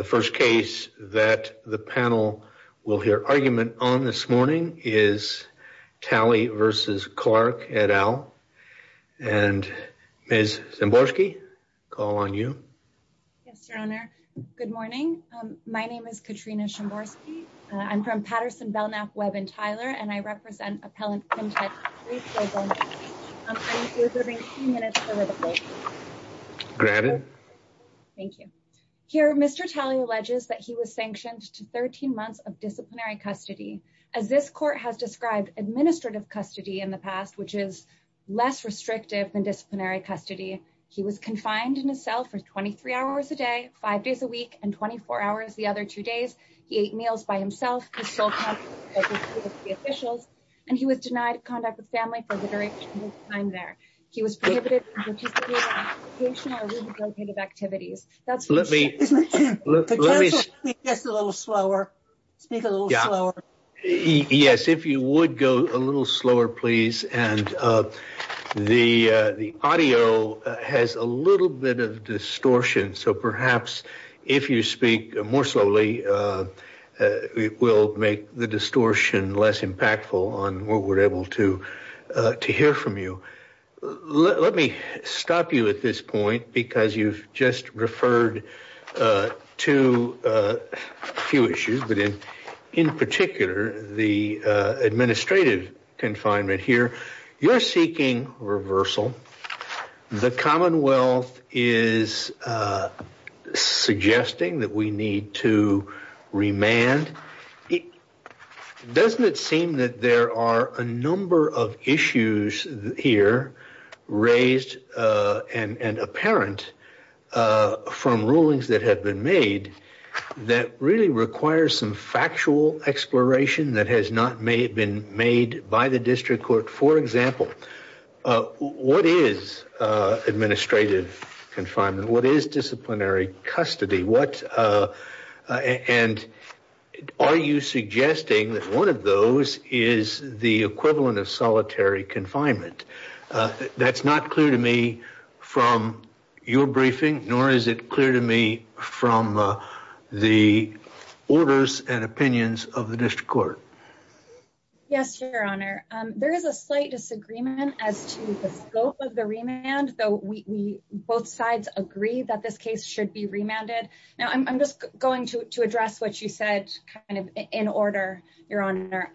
The first case that the panel will hear argument on this morning is Talley v. Clark et al. And Ms. Szymborski, call on you. Yes, Your Honor. Good morning. My name is Katrina Szymborski. I'm from Patterson, Belknap, Webb, and Tyler, and I represent Appellant Contest 3-4 Belknap. I'm going to be observing a few minutes over the phone. Granted. Thank you. Here, Mr. Talley alleges that he was sanctioned to 13 months of disciplinary custody. As this court has described, administrative custody in the past, which is less restrictive than disciplinary custody. He was confined in a cell for 23 hours a day, five days a week, and 24 hours the other two days. He ate meals by himself. His sole contact was with the officials, and he was denied contact with family for the duration of his time there. He was prohibited from participating in educational or rehabilitative activities. Let me. Speak a little slower. Speak a little slower. Yes, if you would go a little slower, please. And the audio has a little bit of distortion. So perhaps if you speak more slowly, it will make the distortion less impactful on what we're able to hear from you. Let me stop you at this point because you've just referred to a few issues. But in particular, the administrative confinement here, you're seeking reversal. The Commonwealth is suggesting that we need to remand. Doesn't it seem that there are a number of issues here raised and apparent from rulings that have been made that really require some factual exploration that has not been made by the district court? For example, what is administrative confinement? What is disciplinary custody? And are you suggesting that one of those is the equivalent of solitary confinement? That's not clear to me from your briefing, nor is it clear to me from the orders and opinions of the district court. Yes, Your Honor, there is a slight disagreement as to the scope of the remand, though we both sides agree that this case should be remanded. Now, I'm just going to address what you said kind of in order, Your Honor.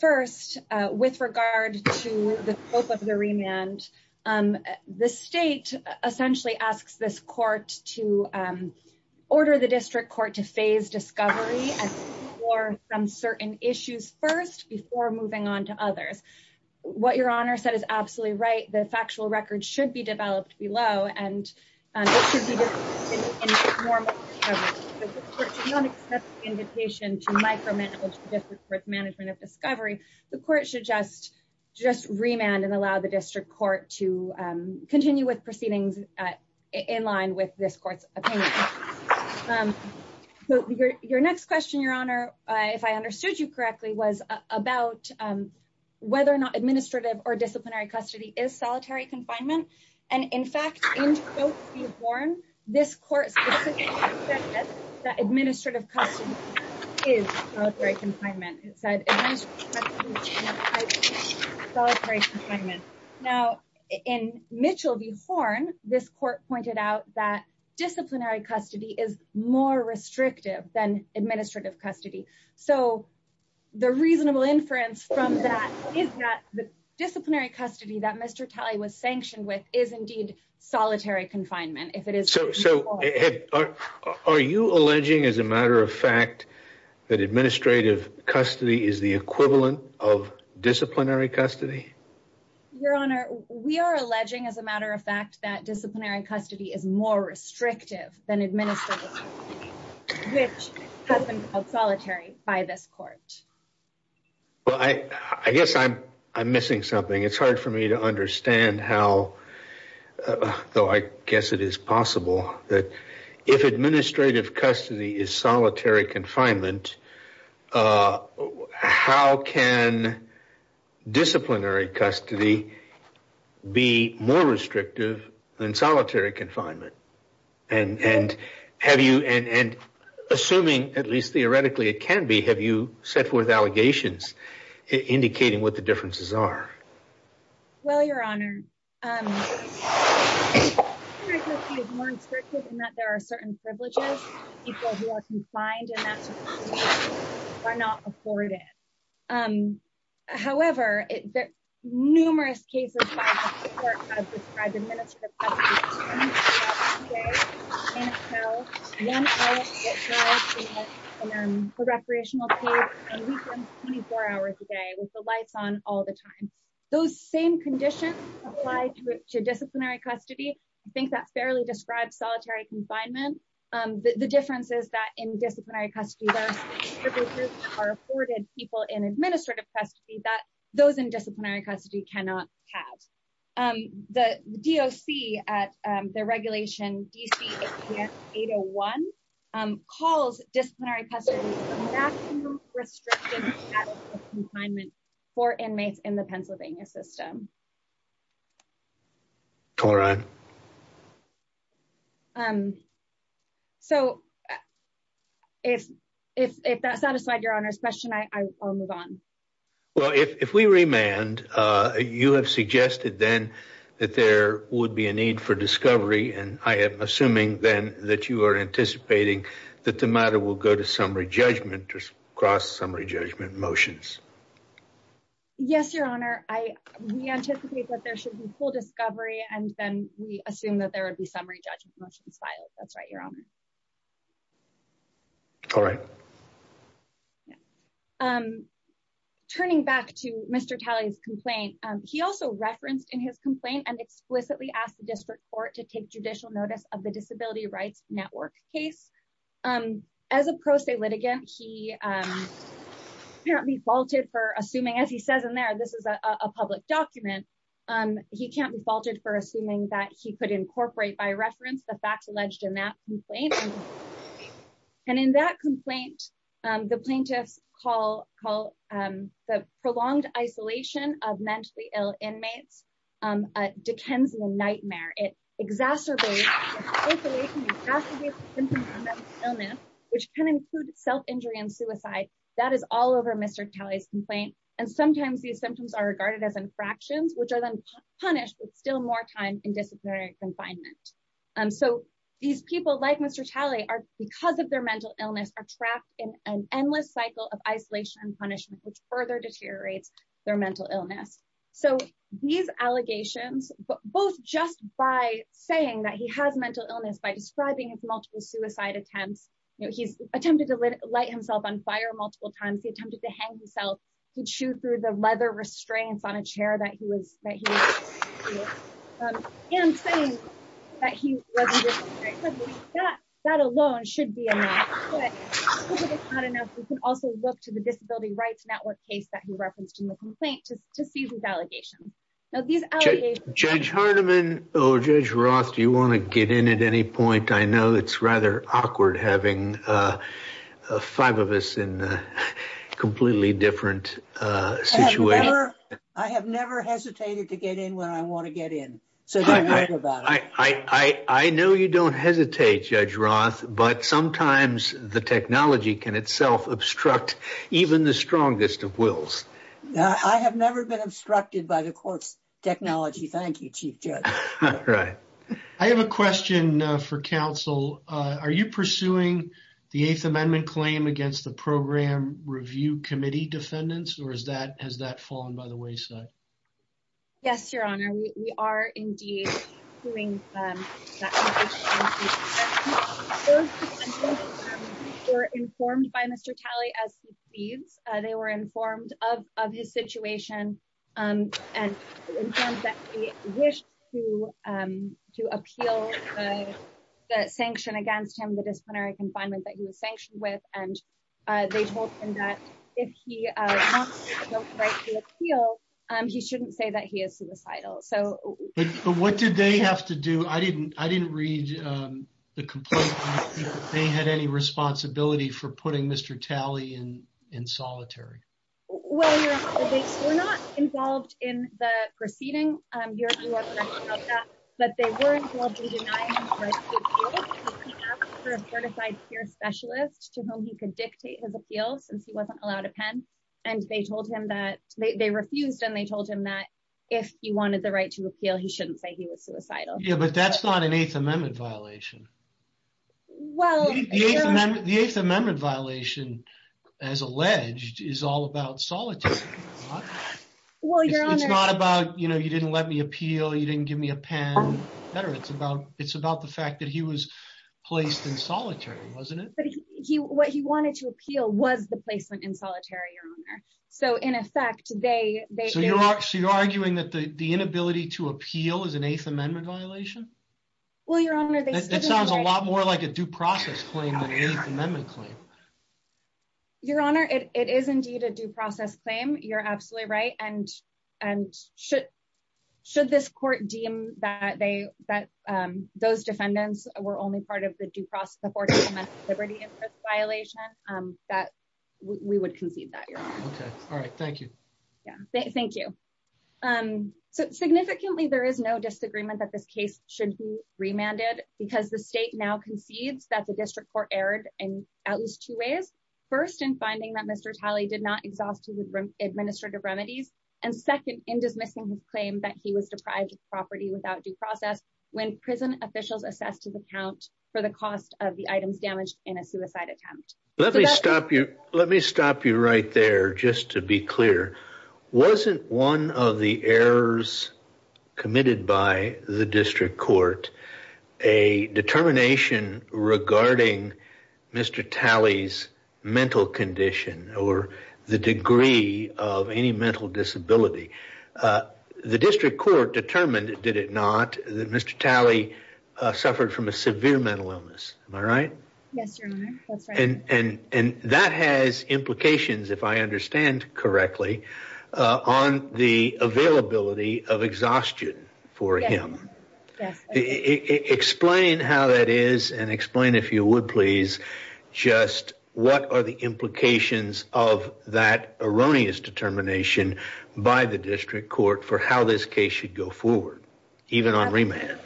First, with regard to the scope of the remand, the state essentially asks this court to order the district court to phase discovery from certain issues first before moving on to others. What Your Honor said is absolutely right. The factual record should be developed below, and it should be in the form of discovery. The court should not accept the invitation to micromanage the district court's management of discovery. The court should just remand and allow the district court to continue with proceedings in line with this court's opinion. Your next question, Your Honor, if I understood you correctly, was about whether or not administrative or disciplinary custody is solitary confinement. And in fact, in quote V. Horn, this court specifically said that administrative custody is solitary confinement. Now, in Mitchell v. Horn, this court pointed out that disciplinary custody is more restrictive than administrative custody. So the reasonable inference from that is that the disciplinary custody that Mr. Talley was sanctioned with is indeed solitary confinement. So are you alleging, as a matter of fact, that administrative custody is the equivalent of disciplinary custody? Your Honor, we are alleging, as a matter of fact, that disciplinary custody is more restrictive than administrative custody, which has been called solitary by this court. Well, I guess I'm missing something. It's hard for me to understand how, though I guess it is possible, that if administrative custody is solitary confinement, how can disciplinary custody be more restrictive than solitary confinement? And assuming, at least theoretically, it can be, have you set forth allegations indicating what the differences are? Well, Your Honor, disciplinary custody is more restrictive in that there are certain privileges that people who are confined in that sort of facility are not afforded. However, numerous cases by this court have described administrative custody as 24 hours a day in a cell, one night at night in a recreational cave, and weekends 24 hours a day with the lights on all the time. Those same conditions apply to disciplinary custody. I think that fairly describes solitary confinement. The difference is that in disciplinary custody, there are certain privileges that are afforded people in administrative custody that those in disciplinary custody cannot have. The DOC at the regulation DC-801 calls disciplinary custody a maximum restrictive status of confinement for inmates in the Pennsylvania system. All right. So, if that satisfied Your Honor's question, I'll move on. Well, if we remand, you have suggested then that there would be a need for discovery, and I am assuming then that you are anticipating that the matter will go to summary judgment or cross-summary judgment motions. Yes, Your Honor. We anticipate that there should be full discovery, and then we assume that there would be summary judgment motions filed. That's right, Your Honor. All right. Turning back to Mr. Talley's complaint, he also referenced in his complaint and explicitly asked the district court to take judicial notice of the Disability Rights Network case. As a pro se litigant, he apparently faulted for assuming, as he says in there, this is a public document. He can't be faulted for assuming that he could incorporate by reference the facts alleged in that complaint. And in that complaint, the plaintiffs call the prolonged isolation of mentally ill inmates a Dickensian nightmare. It exacerbates the symptoms of mental illness, which can include self-injury and suicide. That is all over Mr. Talley's complaint, and sometimes these symptoms are regarded as infractions, which are then punished with still more time in disciplinary confinement. So these people, like Mr. Talley, because of their mental illness, are trapped in an endless cycle of isolation and punishment, which further deteriorates their mental illness. So these allegations, both just by saying that he has mental illness by describing his multiple suicide attempts, he's attempted to light himself on fire multiple times, he attempted to hang himself, he'd shoot through the leather restraints on a chair that he was in saying that he wasn't, that alone should be enough. But if it's not enough, we can also look to the Disability Rights Network case that he referenced in the complaint to see these allegations. Now, these allegations- Judge Hardiman or Judge Roth, do you want to get in at any point? I know it's rather awkward having five of us in a completely different situation. I have never hesitated to get in when I want to get in. I know you don't hesitate, Judge Roth, but sometimes the technology can itself obstruct even the strongest of wills. I have never been obstructed by the court's technology, thank you, Chief Judge. I have a question for counsel. Are you pursuing the Eighth Amendment claim against the Program Review Committee defendants, or has that fallen by the wayside? Yes, Your Honor, we are indeed pursuing that. The defendants were informed by Mr. Talley as he pleads. They were informed of his situation and informed that he wished to appeal the sanction against him, the disciplinary confinement that he was sanctioned with. And they told him that if he wants to appeal, he shouldn't say that he is suicidal. But what did they have to do? I didn't read the complaint. They had any responsibility for putting Mr. Talley in solitary? Well, Your Honor, they were not involved in the proceeding. Your Honor, you are correct about that. But they were involved in denying him the right to appeal because he asked for a certified peer specialist to whom he could dictate his appeal since he wasn't allowed a pen. And they told him that they refused and they told him that if he wanted the right to appeal, he shouldn't say he was suicidal. Yeah, but that's not an Eighth Amendment violation. The Eighth Amendment violation, as alleged, is all about solitary. It's not about, you know, you didn't let me appeal, you didn't give me a pen. It's about the fact that he was placed in solitary, wasn't it? But what he wanted to appeal was the placement in solitary, Your Honor. So in effect, they... So you're arguing that the inability to appeal is an Eighth Amendment violation? Well, Your Honor, they... That sounds a lot more like a due process claim than an Eighth Amendment claim. Your Honor, it is indeed a due process claim. You're absolutely right. And should this court deem that they, that those defendants were only part of the due process, the Fourteenth Amendment liberty violation, that we would concede that, Your Honor. All right, thank you. Yeah, thank you. So significantly, there is no disagreement that this case should be remanded because the state now concedes that the district court erred in at least two ways. First, in finding that Mr. Talley did not exhaust his administrative remedies. And second, in dismissing his claim that he was deprived of property without due process when prison officials assessed his account for the cost of the items damaged in a suicide attempt. Let me stop you. Let me stop you right there, just to be clear. Wasn't one of the errors committed by the district court a determination regarding Mr. Talley's mental condition or the degree of any mental disability? The district court determined, did it not, that Mr. Talley suffered from a severe mental illness. Am I right? Yes, Your Honor. That's right. On the availability of exhaustion for him. Yes. Explain how that is and explain, if you would, please, just what are the implications of that erroneous determination by the district court for how this case should go forward, even on remand?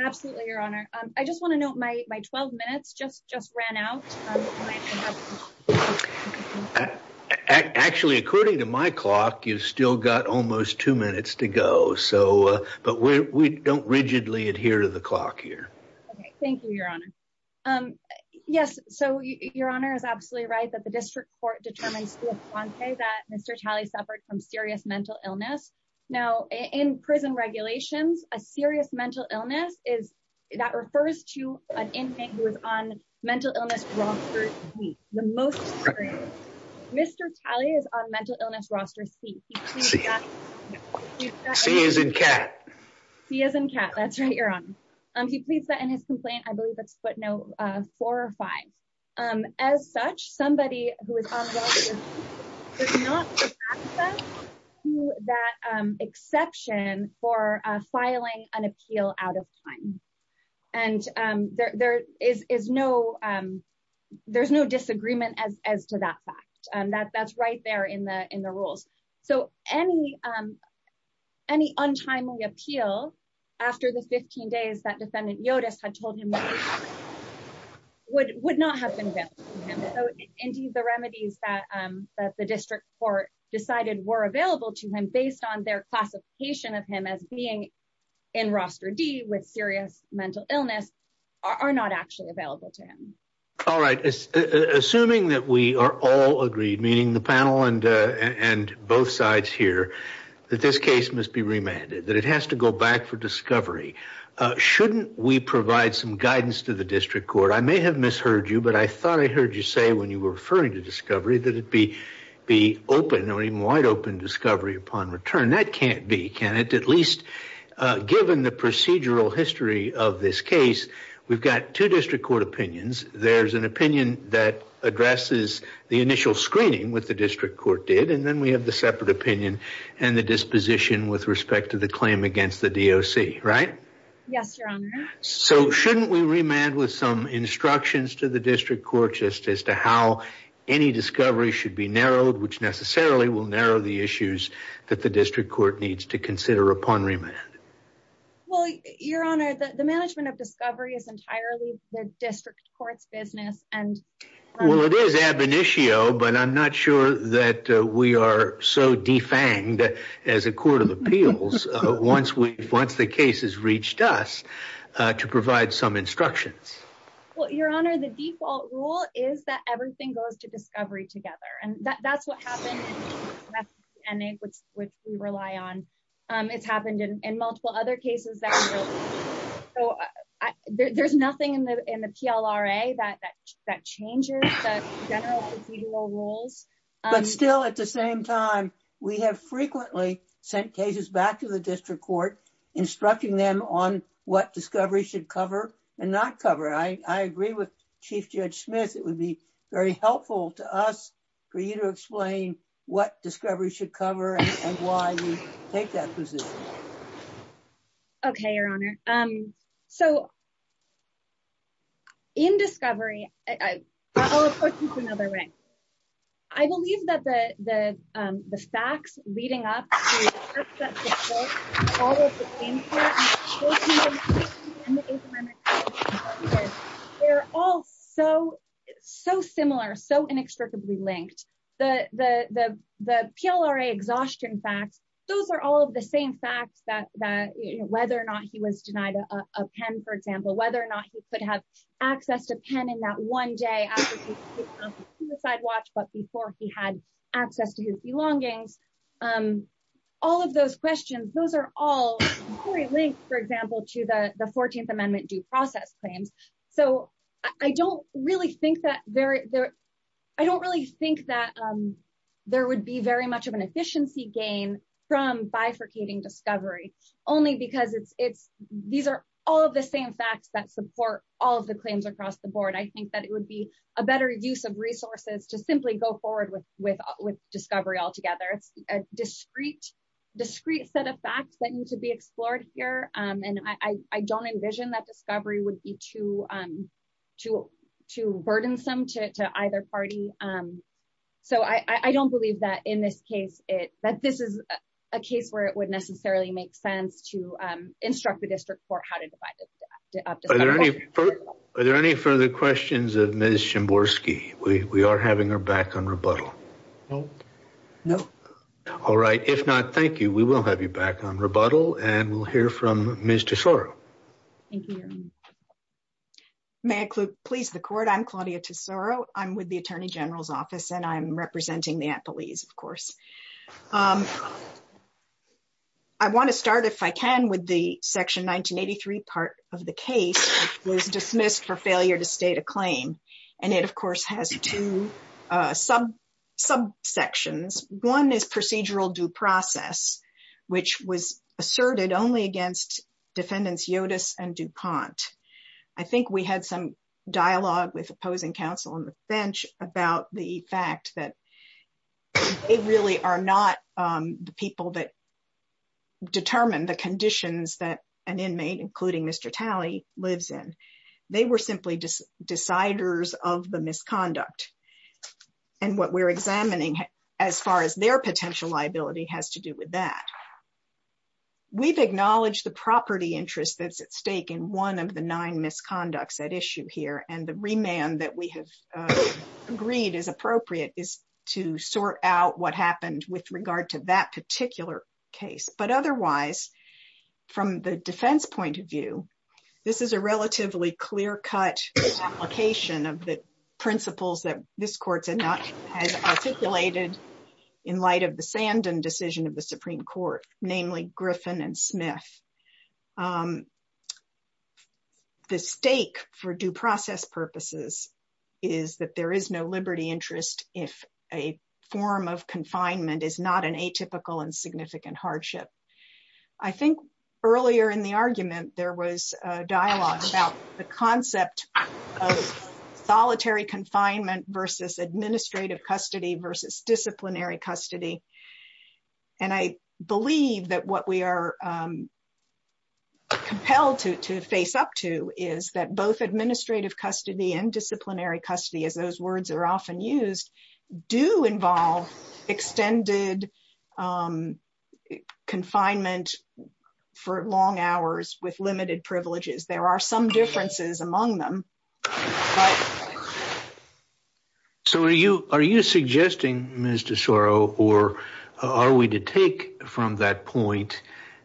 Absolutely, Your Honor. I just want to note my 12 minutes just ran out. Actually, according to my clock, you've still got almost two minutes to go. So but we don't rigidly adhere to the clock here. Thank you, Your Honor. Yes. So, Your Honor is absolutely right that the district court determines that Mr. Talley suffered from serious mental illness. Now, in prison regulations, a serious mental illness is that refers to an inmate who is on mental illness roster C, the most serious. Mr. Talley is on mental illness roster C. C as in cat. C as in cat. That's right, Your Honor. He pleads that in his complaint. I believe it's footnote four or five. As such, somebody who is on mental illness roster C does not have access to that exception for filing an appeal out of time. And there is no disagreement as to that fact. That's right there in the rules. So any untimely appeal after the 15 days that defendant Yotus had told him would not have been. Indeed, the remedies that the district court decided were available to him based on their classification of him as being in roster D with serious mental illness are not actually available to him. All right. Assuming that we are all agreed, meaning the panel and both sides here, that this case must be remanded, that it has to go back for discovery. Shouldn't we provide some guidance to the district court? I may have misheard you, but I thought I heard you say when you were referring to discovery that it be be open or even wide open discovery upon return. That can't be. Given the procedural history of this case, we've got two district court opinions. There's an opinion that addresses the initial screening with the district court did. And then we have the separate opinion and the disposition with respect to the claim against the DOC. Right. Yes. So shouldn't we remand with some instructions to the district court just as to how any discovery should be narrowed, which necessarily will narrow the issues that the district court needs to consider upon remand? Well, your honor, the management of discovery is entirely the district court's business. Well, it is ab initio, but I'm not sure that we are so defanged as a court of appeals. Once we once the case has reached us to provide some instructions. Well, your honor, the default rule is that everything goes to discovery together. And that's what happened. And it was which we rely on. It's happened in multiple other cases. So there's nothing in the PLRA that that changes the general procedural rules. But still, at the same time, we have frequently sent cases back to the district court instructing them on what discovery should cover and not cover. I agree with Chief Judge Smith. It would be very helpful to us for you to explain what discovery should cover and why you take that position. Okay, your honor. So. In discovery. I'll put this another way. I believe that the the facts leading up. All. They're all so, so similar, so inextricably linked. The PLRA exhaustion facts. Those are all of the same facts that whether or not he was denied a pen, for example, whether or not he could have access to pen in that one day. Sidewatch, but before he had access to his belongings. All of those questions. Those are all linked, for example, to the 14th Amendment due process claims. I don't really think that there. I don't really think that there would be very much of an efficiency gain from bifurcating discovery, only because it's it's these are all of the same facts that support all of the claims across the board, I think that it would be a better use of resources to simply go forward with with with discovery altogether. It's a discreet, discreet set of facts that need to be explored here, and I don't envision that discovery would be too, too, too burdensome to either party. So I don't believe that in this case, it that this is a case where it would necessarily make sense to instruct the district court how to divide. Are there any further questions of Ms. Chamborski? We are having her back on rebuttal. No, no. All right. If not, thank you. We will have you back on rebuttal and we'll hear from Ms. Tesoro. Thank you. May I please the court. I'm Claudia Tesoro. I'm with the Attorney General's Office and I'm representing the police, of course. I want to start, if I can, with the section 1983 part of the case was dismissed for failure to state a claim. And it of course has two sub sections. One is procedural due process, which was asserted only against defendants Yotus and DuPont. I think we had some dialogue with opposing counsel on the bench about the fact that they really are not the people that determine the conditions that an inmate, including Mr. Talley, lives in. They were simply just deciders of the misconduct. And what we're examining as far as their potential liability has to do with that. We've acknowledged the property interest that's at stake in one of the nine misconducts at issue here and the remand that we have agreed is appropriate is to sort out what happened with regard to that particular case. But otherwise, from the defense point of view, this is a relatively clear cut application of the principles that this court has articulated in light of the Sandin decision of the Supreme Court, namely Griffin and Smith. The stake for due process purposes is that there is no liberty interest if a form of confinement is not an atypical and significant hardship. I think earlier in the argument, there was a dialogue about the concept of solitary confinement versus administrative custody versus disciplinary custody. And I believe that what we are compelled to face up to is that both administrative custody and disciplinary custody, as those words are often used, do involve extended confinement for long hours with limited privileges. There are some differences among them. So are you suggesting, Mr. Soro, or are we to take from that point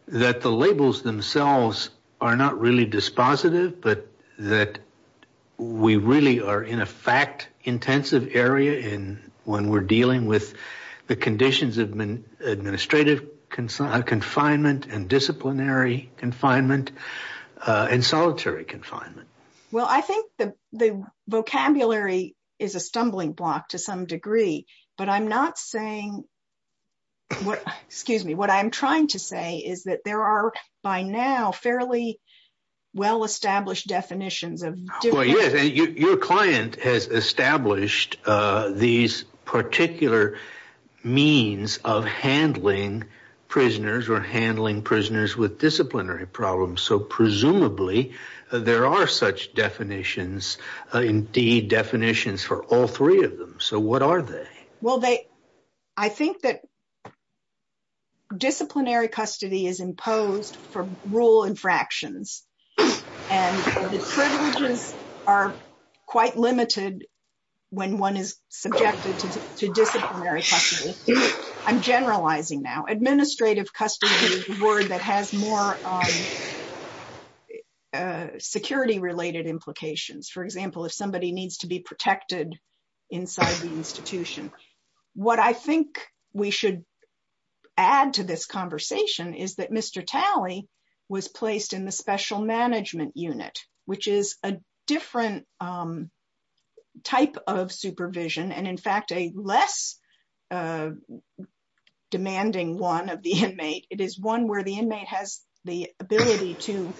that the labels themselves are not really dispositive, but that we really are in a fact-intensive area when we're dealing with the conditions of administrative confinement and disciplinary confinement and solitary confinement? Well, I think the vocabulary is a stumbling block to some degree, but I'm not saying – excuse me. What I'm trying to say is that there are, by now, fairly well-established definitions of – indeed, definitions for all three of them. So what are they? Well, I think that disciplinary custody is imposed for rule infractions, and the privileges are quite limited when one is subjected to disciplinary custody. I'm generalizing now. Administrative custody is a word that has more security-related implications. For example, if somebody needs to be protected inside the institution. What I think we should add to this conversation is that Mr. Talley was placed in the special management unit, which is a different type of supervision and, in fact, a less demanding one of the inmate. It is one where the inmate has the ability to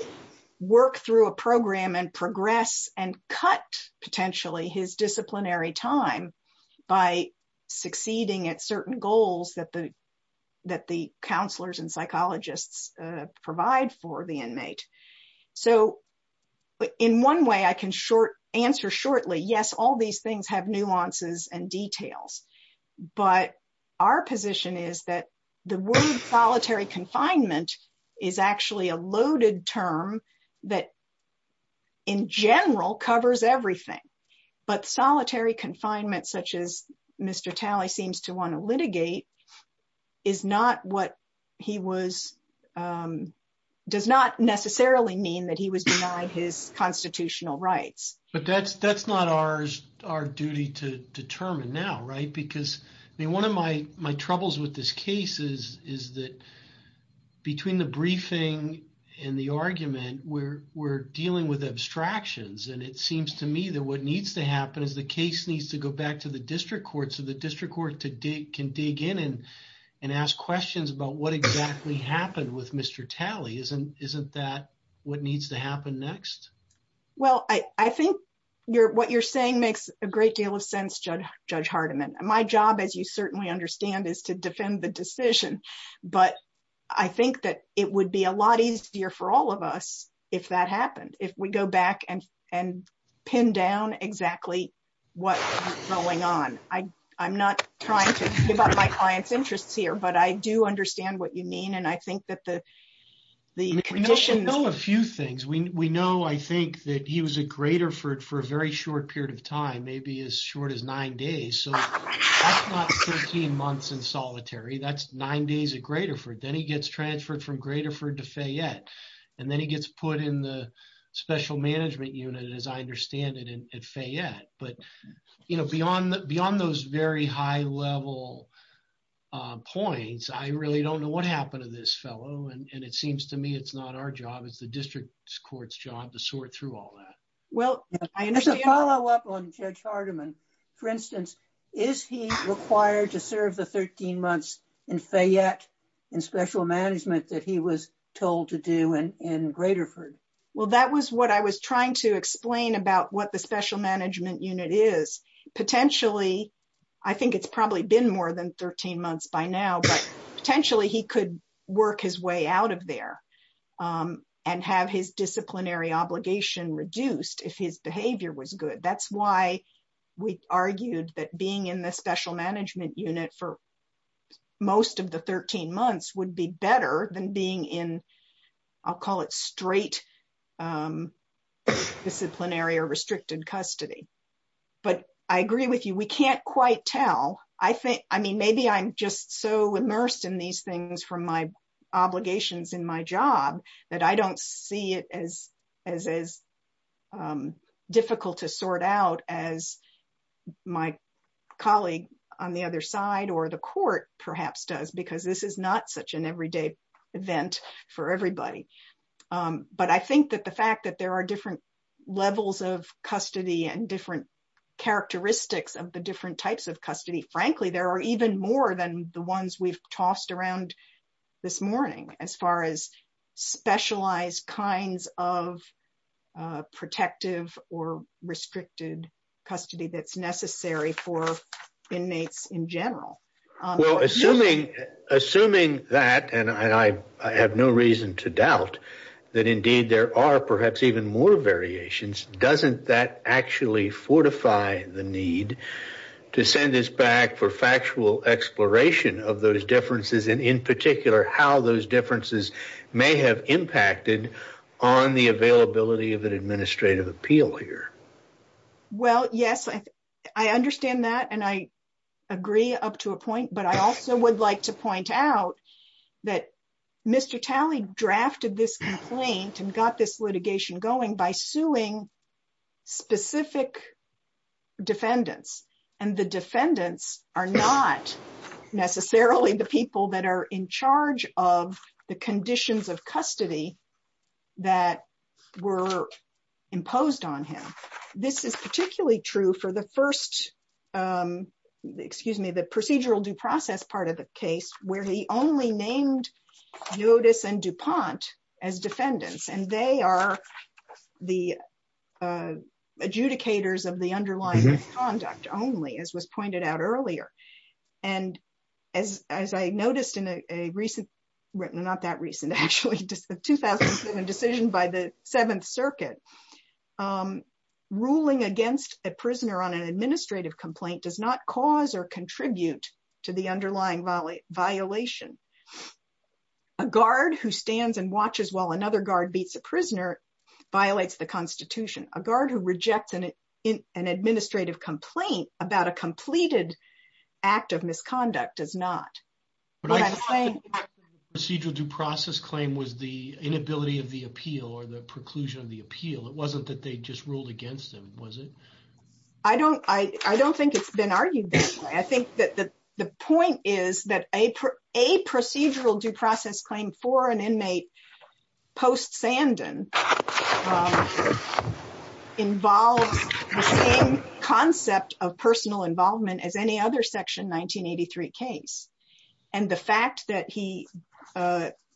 work through a program and progress and cut, potentially, his disciplinary time by succeeding at certain goals that the counselors and psychologists provide for the inmate. So in one way, I can answer shortly, yes, all these things have nuances and details. But our position is that the word solitary confinement is actually a loaded term that, in general, covers everything. But solitary confinement, such as Mr. Talley seems to want to litigate, is not what he was – does not necessarily mean that he was denied his constitutional rights. But that's not our duty to determine now, right? Because one of my troubles with this case is that between the briefing and the argument, we're dealing with abstractions. And it seems to me that what needs to happen is the case needs to go back to the district court so the district court can dig in and ask questions about what exactly happened with Mr. Talley. Isn't that what needs to happen next? Well, I think what you're saying makes a great deal of sense, Judge Hardiman. My job, as you certainly understand, is to defend the decision. But I think that it would be a lot easier for all of us if that happened, if we go back and pin down exactly what's going on. I'm not trying to give up my client's interests here, but I do understand what you mean. And I think that the conditions – We know a few things. We know, I think, that he was at Graterford for a very short period of time, maybe as short as nine days. So that's not 13 months in solitary. That's nine days at Graterford. Then he gets transferred from Graterford to Fayette. And then he gets put in the special management unit, as I understand it, at Fayette. But beyond those very high-level points, I really don't know what happened to this fellow. And it seems to me it's not our job. It's the district court's job to sort through all that. Well, as a follow-up on Judge Hardiman, for instance, is he required to serve the 13 months in Fayette in special management that he was told to do in Graterford? Well, that was what I was trying to explain about what the special management unit is. Potentially, I think it's probably been more than 13 months by now, but potentially he could work his way out of there and have his disciplinary obligation reduced if his behavior was good. That's why we argued that being in the special management unit for most of the 13 months would be better than being in, I'll call it straight disciplinary or restricted custody. But I agree with you, we can't quite tell. I mean, maybe I'm just so immersed in these things from my obligations in my job that I don't see it as difficult to sort out as my colleague on the other side or the court perhaps does, because this is not such an everyday event for everybody. But I think that the fact that there are different levels of custody and different characteristics of the different types of custody, frankly, there are even more than the ones we've tossed around this morning as far as specialized kinds of protective or restricted custody that's necessary for inmates in general. Well, assuming that, and I have no reason to doubt that indeed there are perhaps even more variations, doesn't that actually fortify the need to send this back for factual exploration of those differences and in particular how those differences may have impacted on the availability of an administrative appeal here? Well, yes, I understand that and I agree up to a point, but I also would like to point out that Mr. Talley drafted this complaint and got this litigation going by suing specific defendants. And the defendants are not necessarily the people that are in charge of the conditions of custody that were imposed on him. This is particularly true for the first, excuse me, the procedural due process part of the case where he only named Notice and DuPont as defendants and they are the adjudicators of the underlying conduct only, as was pointed out earlier. And as I noticed in a recent, well not that recent actually, 2007 decision by the Seventh Circuit, ruling against a prisoner on an administrative complaint does not cause or contribute to the underlying violation. A guard who stands and watches while another guard beats a prisoner violates the Constitution. A guard who rejects an administrative complaint about a completed act of misconduct does not. But I thought the procedural due process claim was the inability of the appeal or the preclusion of the appeal. It wasn't that they just ruled against him, was it? I don't think it's been argued that way. I think that the point is that a procedural due process claim for an inmate post-Sandon involves the same concept of personal involvement as any other Section 1983 case. And the fact that he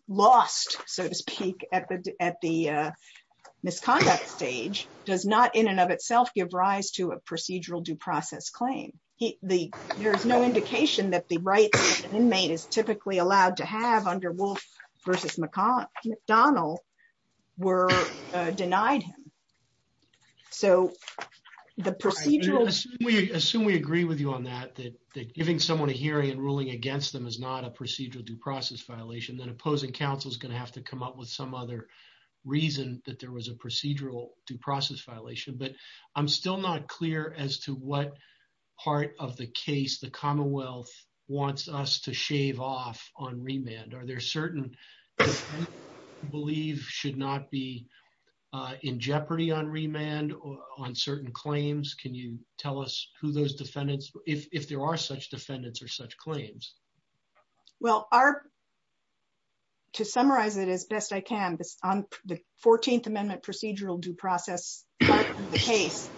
lost, so to speak, at the misconduct stage does not in and of itself give rise to a procedural due process claim. There's no indication that the rights that an inmate is typically allowed to have under Wolf v. McDonald were denied him. Assume we agree with you on that, that giving someone a hearing and ruling against them is not a procedural due process violation, then opposing counsel is going to have to come up with some other reason that there was a procedural due process violation. But I'm still not clear as to what part of the case the Commonwealth wants us to shave off on remand. Are there certain that you believe should not be in jeopardy on remand on certain claims? Can you tell us who those defendants, if there are such defendants or such claims? Well, to summarize it as best I can, on the 14th Amendment procedural due process part of the case,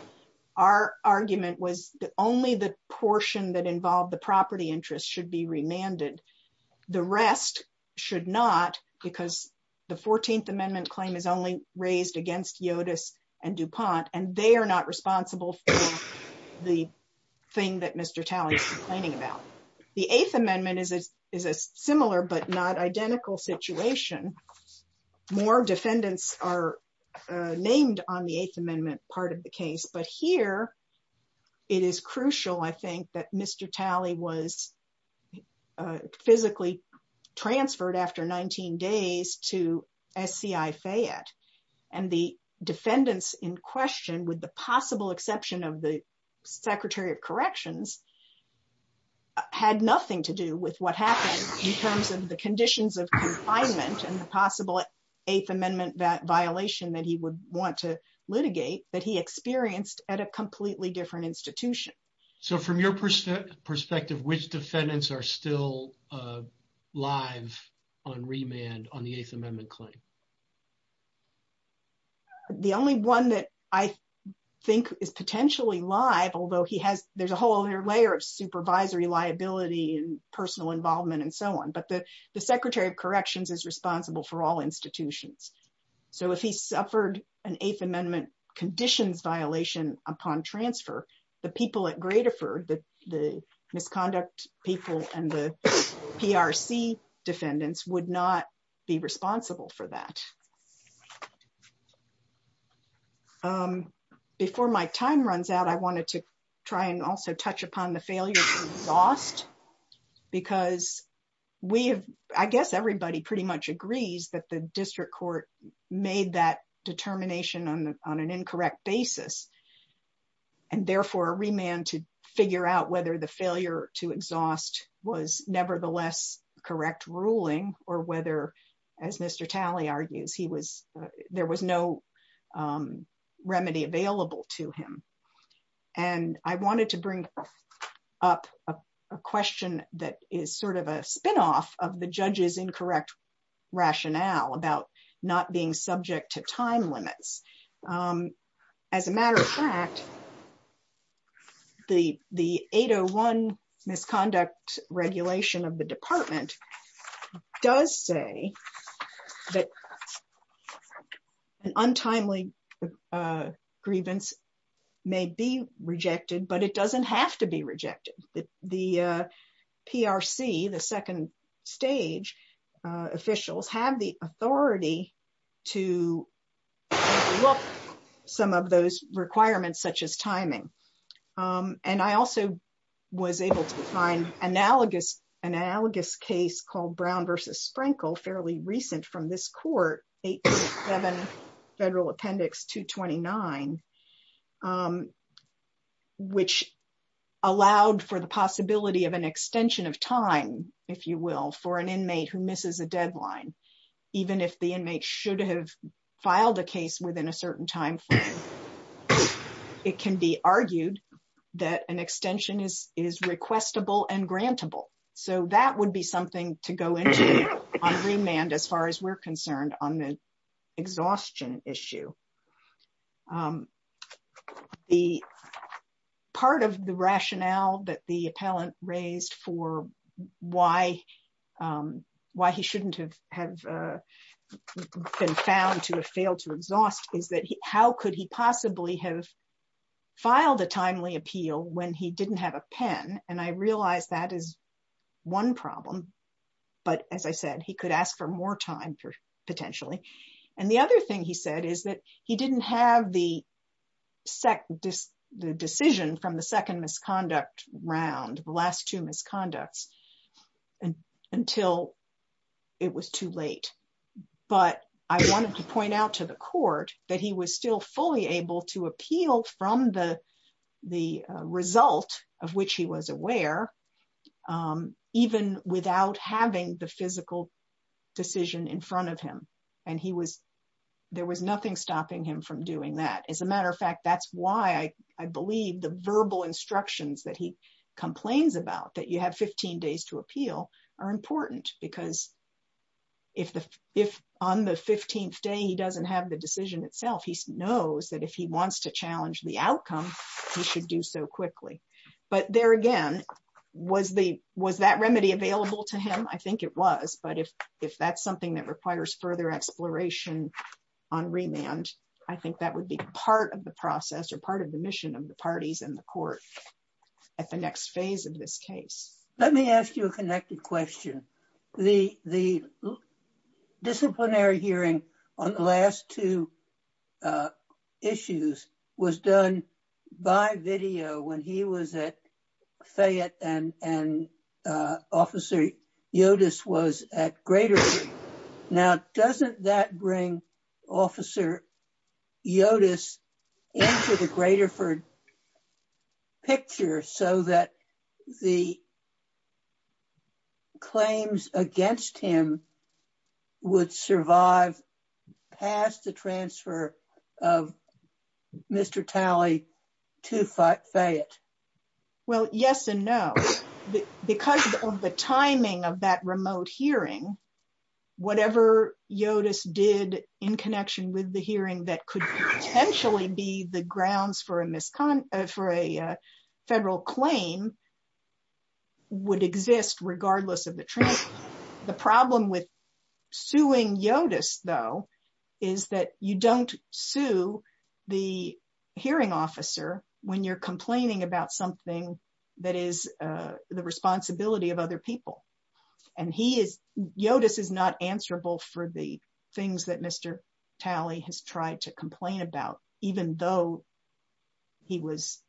our argument was that only the portion that involved the property interest should be remanded. The rest should not because the 14th Amendment claim is only raised against Yotus and DuPont, and they are not responsible for the thing that Mr. Talley is complaining about. The Eighth Amendment is a similar but not identical situation. More defendants are named on the Eighth Amendment part of the case, but here it is crucial, I think, that Mr. Talley was physically transferred after 19 days to SCI Fayette. And the defendants in question, with the possible exception of the Secretary of Corrections, had nothing to do with what happened in terms of the conditions of confinement and the possible Eighth Amendment violation that he would want to litigate that he experienced at a completely different institution. So from your perspective, which defendants are still live on remand on the Eighth Amendment claim? The only one that I think is potentially live, although there's a whole other layer of supervisory liability and personal involvement and so on, but the Secretary of Corrections is responsible for all institutions. So if he suffered an Eighth Amendment conditions violation upon transfer, the people at Gradoford, the misconduct people and the PRC defendants would not be responsible for that. Before my time runs out, I wanted to try and also touch upon the failure to exhaust, because I guess everybody pretty much agrees that the district court made that determination on an incorrect basis. And therefore, a remand to figure out whether the failure to exhaust was nevertheless correct ruling or whether, as Mr. Talley argues, there was no remedy available to him. And I wanted to bring up a question that is sort of a spinoff of the judges' incorrect rationale about not being subject to time limits. As a matter of fact, the 801 misconduct regulation of the department does say that an untimely grievance may be rejected, but it doesn't have to be rejected. The PRC, the second stage officials, have the authority to overlook some of those requirements, such as timing. And I also was able to find an analogous case called Brown v. Sprinkle, fairly recent from this court, 187 Federal Appendix 229, which allowed for the possibility of an extension of time, if you will, for an inmate who misses a deadline, even if the inmate should have filed a case within a certain time frame. It can be argued that an extension is requestable and grantable. So that would be something to go into on remand, as far as we're concerned, on the exhaustion issue. The part of the rationale that the appellant raised for why he shouldn't have been found to have failed to exhaust is that how could he possibly have filed a timely appeal when he didn't have a pen? And I realize that is one problem. But as I said, he could ask for more time, potentially. And the other thing he said is that he didn't have the decision from the second misconduct round, the last two misconducts, until it was too late. But I wanted to point out to the court that he was still fully able to appeal from the result of which he was aware, even without having the physical decision in front of him. And there was nothing stopping him from doing that. As a matter of fact, that's why I believe the verbal instructions that he complains about, that you have 15 days to appeal, are important. Because if on the 15th day he doesn't have the decision itself, he knows that if he wants to challenge the outcome, he should do so quickly. But there again, was that remedy available to him? I think it was. But if that's something that requires further exploration on remand, I think that would be part of the process or part of the mission of the parties in the court at the next phase of this case. Let me ask you a connected question. The disciplinary hearing on the last two issues was done by video when he was at Fayette and Officer Yotus was at Graterford. Now, doesn't that bring Officer Yotus into the Graterford picture so that the claims against him would survive past the transfer of Mr. Talley to Fayette? Well, yes and no. Because of the timing of that remote hearing, whatever Yotus did in connection with the hearing that could potentially be the grounds for a federal claim would exist regardless of the transfer. The problem with suing Yotus, though, is that you don't sue the hearing officer when you're complaining about something that is the responsibility of other people. And Yotus is not answerable for the things that Mr. Talley has tried to complain about, even though he was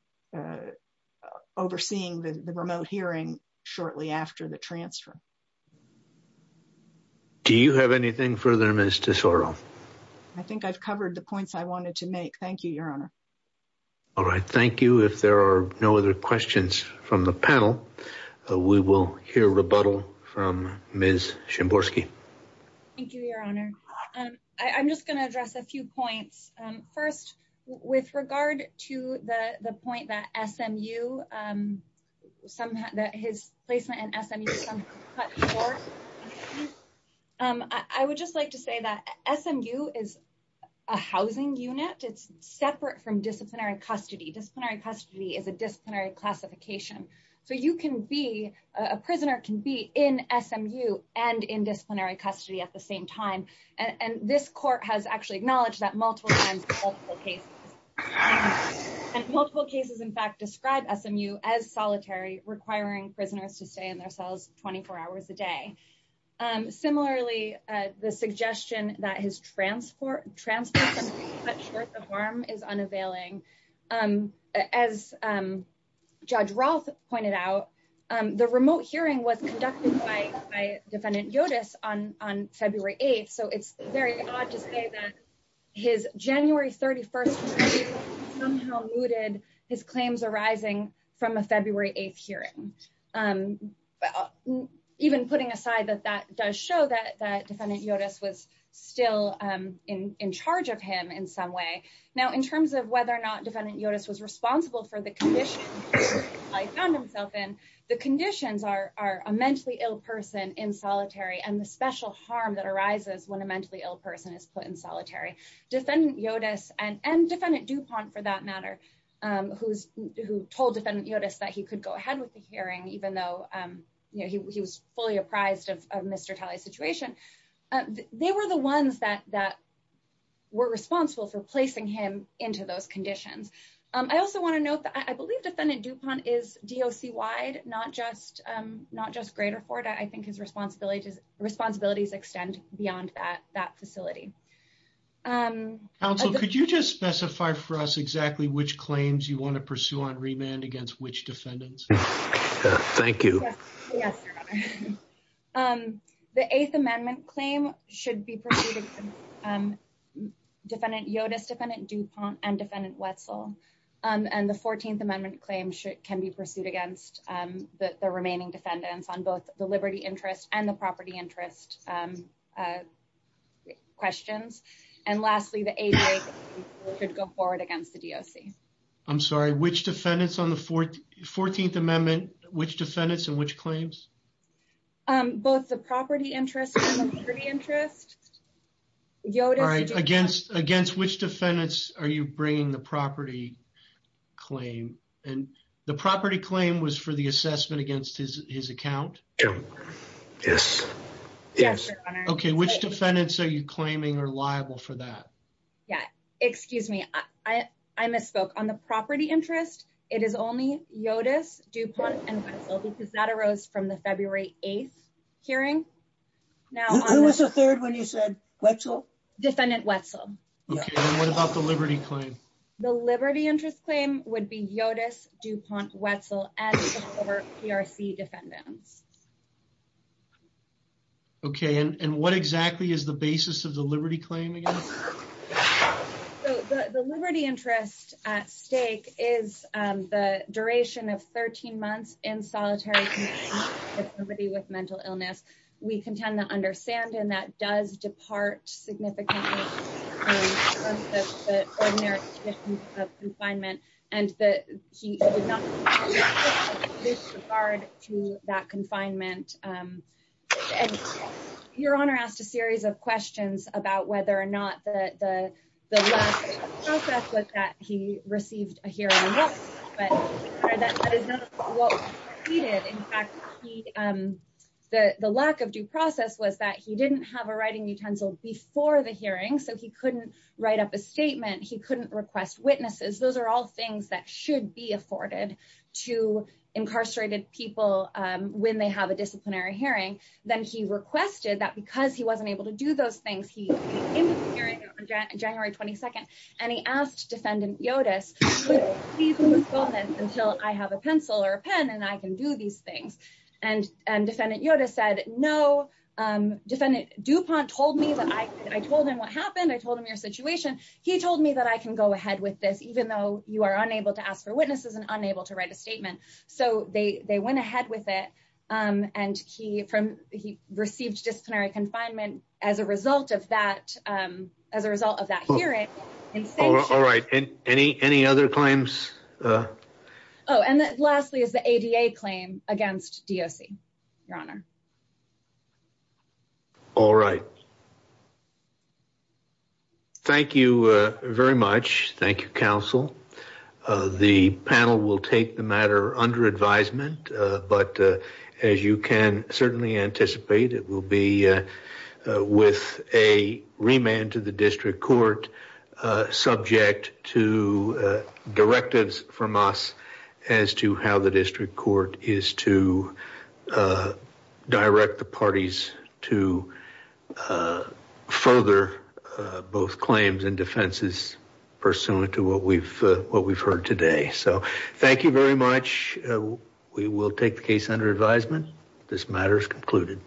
overseeing the remote hearing shortly after the transfer. Do you have anything further, Ms. Tesoro? I think I've covered the points I wanted to make. Thank you, Your Honor. All right. Thank you. If there are no other questions from the panel, we will hear rebuttal from Ms. Shimborski. Thank you, Your Honor. I'm just going to address a few points. First, with regard to the point that his placement in SMU was cut short, I would just like to say that SMU is a housing unit. It's separate from disciplinary custody. Disciplinary custody is a disciplinary classification. So you can be, a prisoner can be in SMU and in disciplinary custody at the same time. And this court has actually acknowledged that multiple times in multiple cases. And multiple cases, in fact, describe SMU as solitary, requiring prisoners to stay in their cells 24 hours a day. Similarly, the suggestion that his transfer from being cut short of arm is unavailing. As Judge Rolfe pointed out, the remote hearing was conducted by Defendant Yotis on February 8th. So it's very odd to say that his January 31st hearing somehow mooted his claims arising from a February 8th hearing. Even putting aside that that does show that Defendant Yotis was still in charge of him in some way. Now in terms of whether or not Defendant Yotis was responsible for the condition he found himself in, the conditions are a mentally ill person in solitary and the special harm that arises when a mentally ill person is put in solitary. Defendant Yotis, and Defendant DuPont for that matter, who told Defendant Yotis that he could go ahead with the hearing even though he was fully apprised of Mr. Talley's situation. They were the ones that were responsible for placing him into those conditions. I also want to note that I believe Defendant DuPont is DOC-wide, not just Greater Florida. I think his responsibilities extend beyond that facility. Counsel, could you just specify for us exactly which claims you want to pursue on remand against which defendants? Thank you. Yes, Your Honor. The Eighth Amendment claim should be pursued against Defendant Yotis, Defendant DuPont, and Defendant Wetzel. And the Fourteenth Amendment claim can be pursued against the remaining defendants on both the liberty interest and the property interest questions. And lastly, the Eighth Amendment should go forward against the DOC. I'm sorry, which defendants on the Fourteenth Amendment? Which defendants and which claims? Both the property interest and the liberty interest. All right, against which defendants are you bringing the property claim? And the property claim was for the assessment against his account? Yes. Okay, which defendants are you claiming are liable for that? Yeah, excuse me. I misspoke. On the property interest, it is only Yotis, DuPont, and Wetzel because that arose from the February 8th hearing. Who was the third when you said Wetzel? Defendant Wetzel. Okay, and what about the liberty claim? The liberty interest claim would be Yotis, DuPont, Wetzel, and the four PRC defendants. Okay, and what exactly is the basis of the liberty claim again? The liberty interest at stake is the duration of 13 months in solitary confinement for somebody with mental illness. We contend that under Sandin, that does depart significantly from the ordinary conditions of confinement. And that he would not have this regard to that confinement. Your Honor asked a series of questions about whether or not the lack of due process was that he received a hearing. But that is not what he needed. In fact, the lack of due process was that he didn't have a writing utensil before the hearing. So he couldn't write up a statement. He couldn't request witnesses. Those are all things that should be afforded to incarcerated people when they have a disciplinary hearing. Then he requested that because he wasn't able to do those things, he would be in the hearing on January 22nd. And he asked Defendant Yotis, would you please postpone this until I have a pencil or a pen and I can do these things? And Defendant Yotis said, no. Defendant DuPont told me that I told him what happened. I told him your situation. He told me that I can go ahead with this even though you are unable to ask for witnesses and unable to write a statement. So they went ahead with it. And he received disciplinary confinement as a result of that hearing. All right. Any other claims? Oh, and lastly is the ADA claim against DOC, Your Honor. All right. Thank you very much. Thank you, counsel. The panel will take the matter under advisement. But as you can certainly anticipate, it will be with a remand to the district court subject to directives from us as to how the district court is to direct the parties to further both claims and defenses pursuant to what we've heard today. So thank you very much. We will take the case under advisement. This matter is concluded.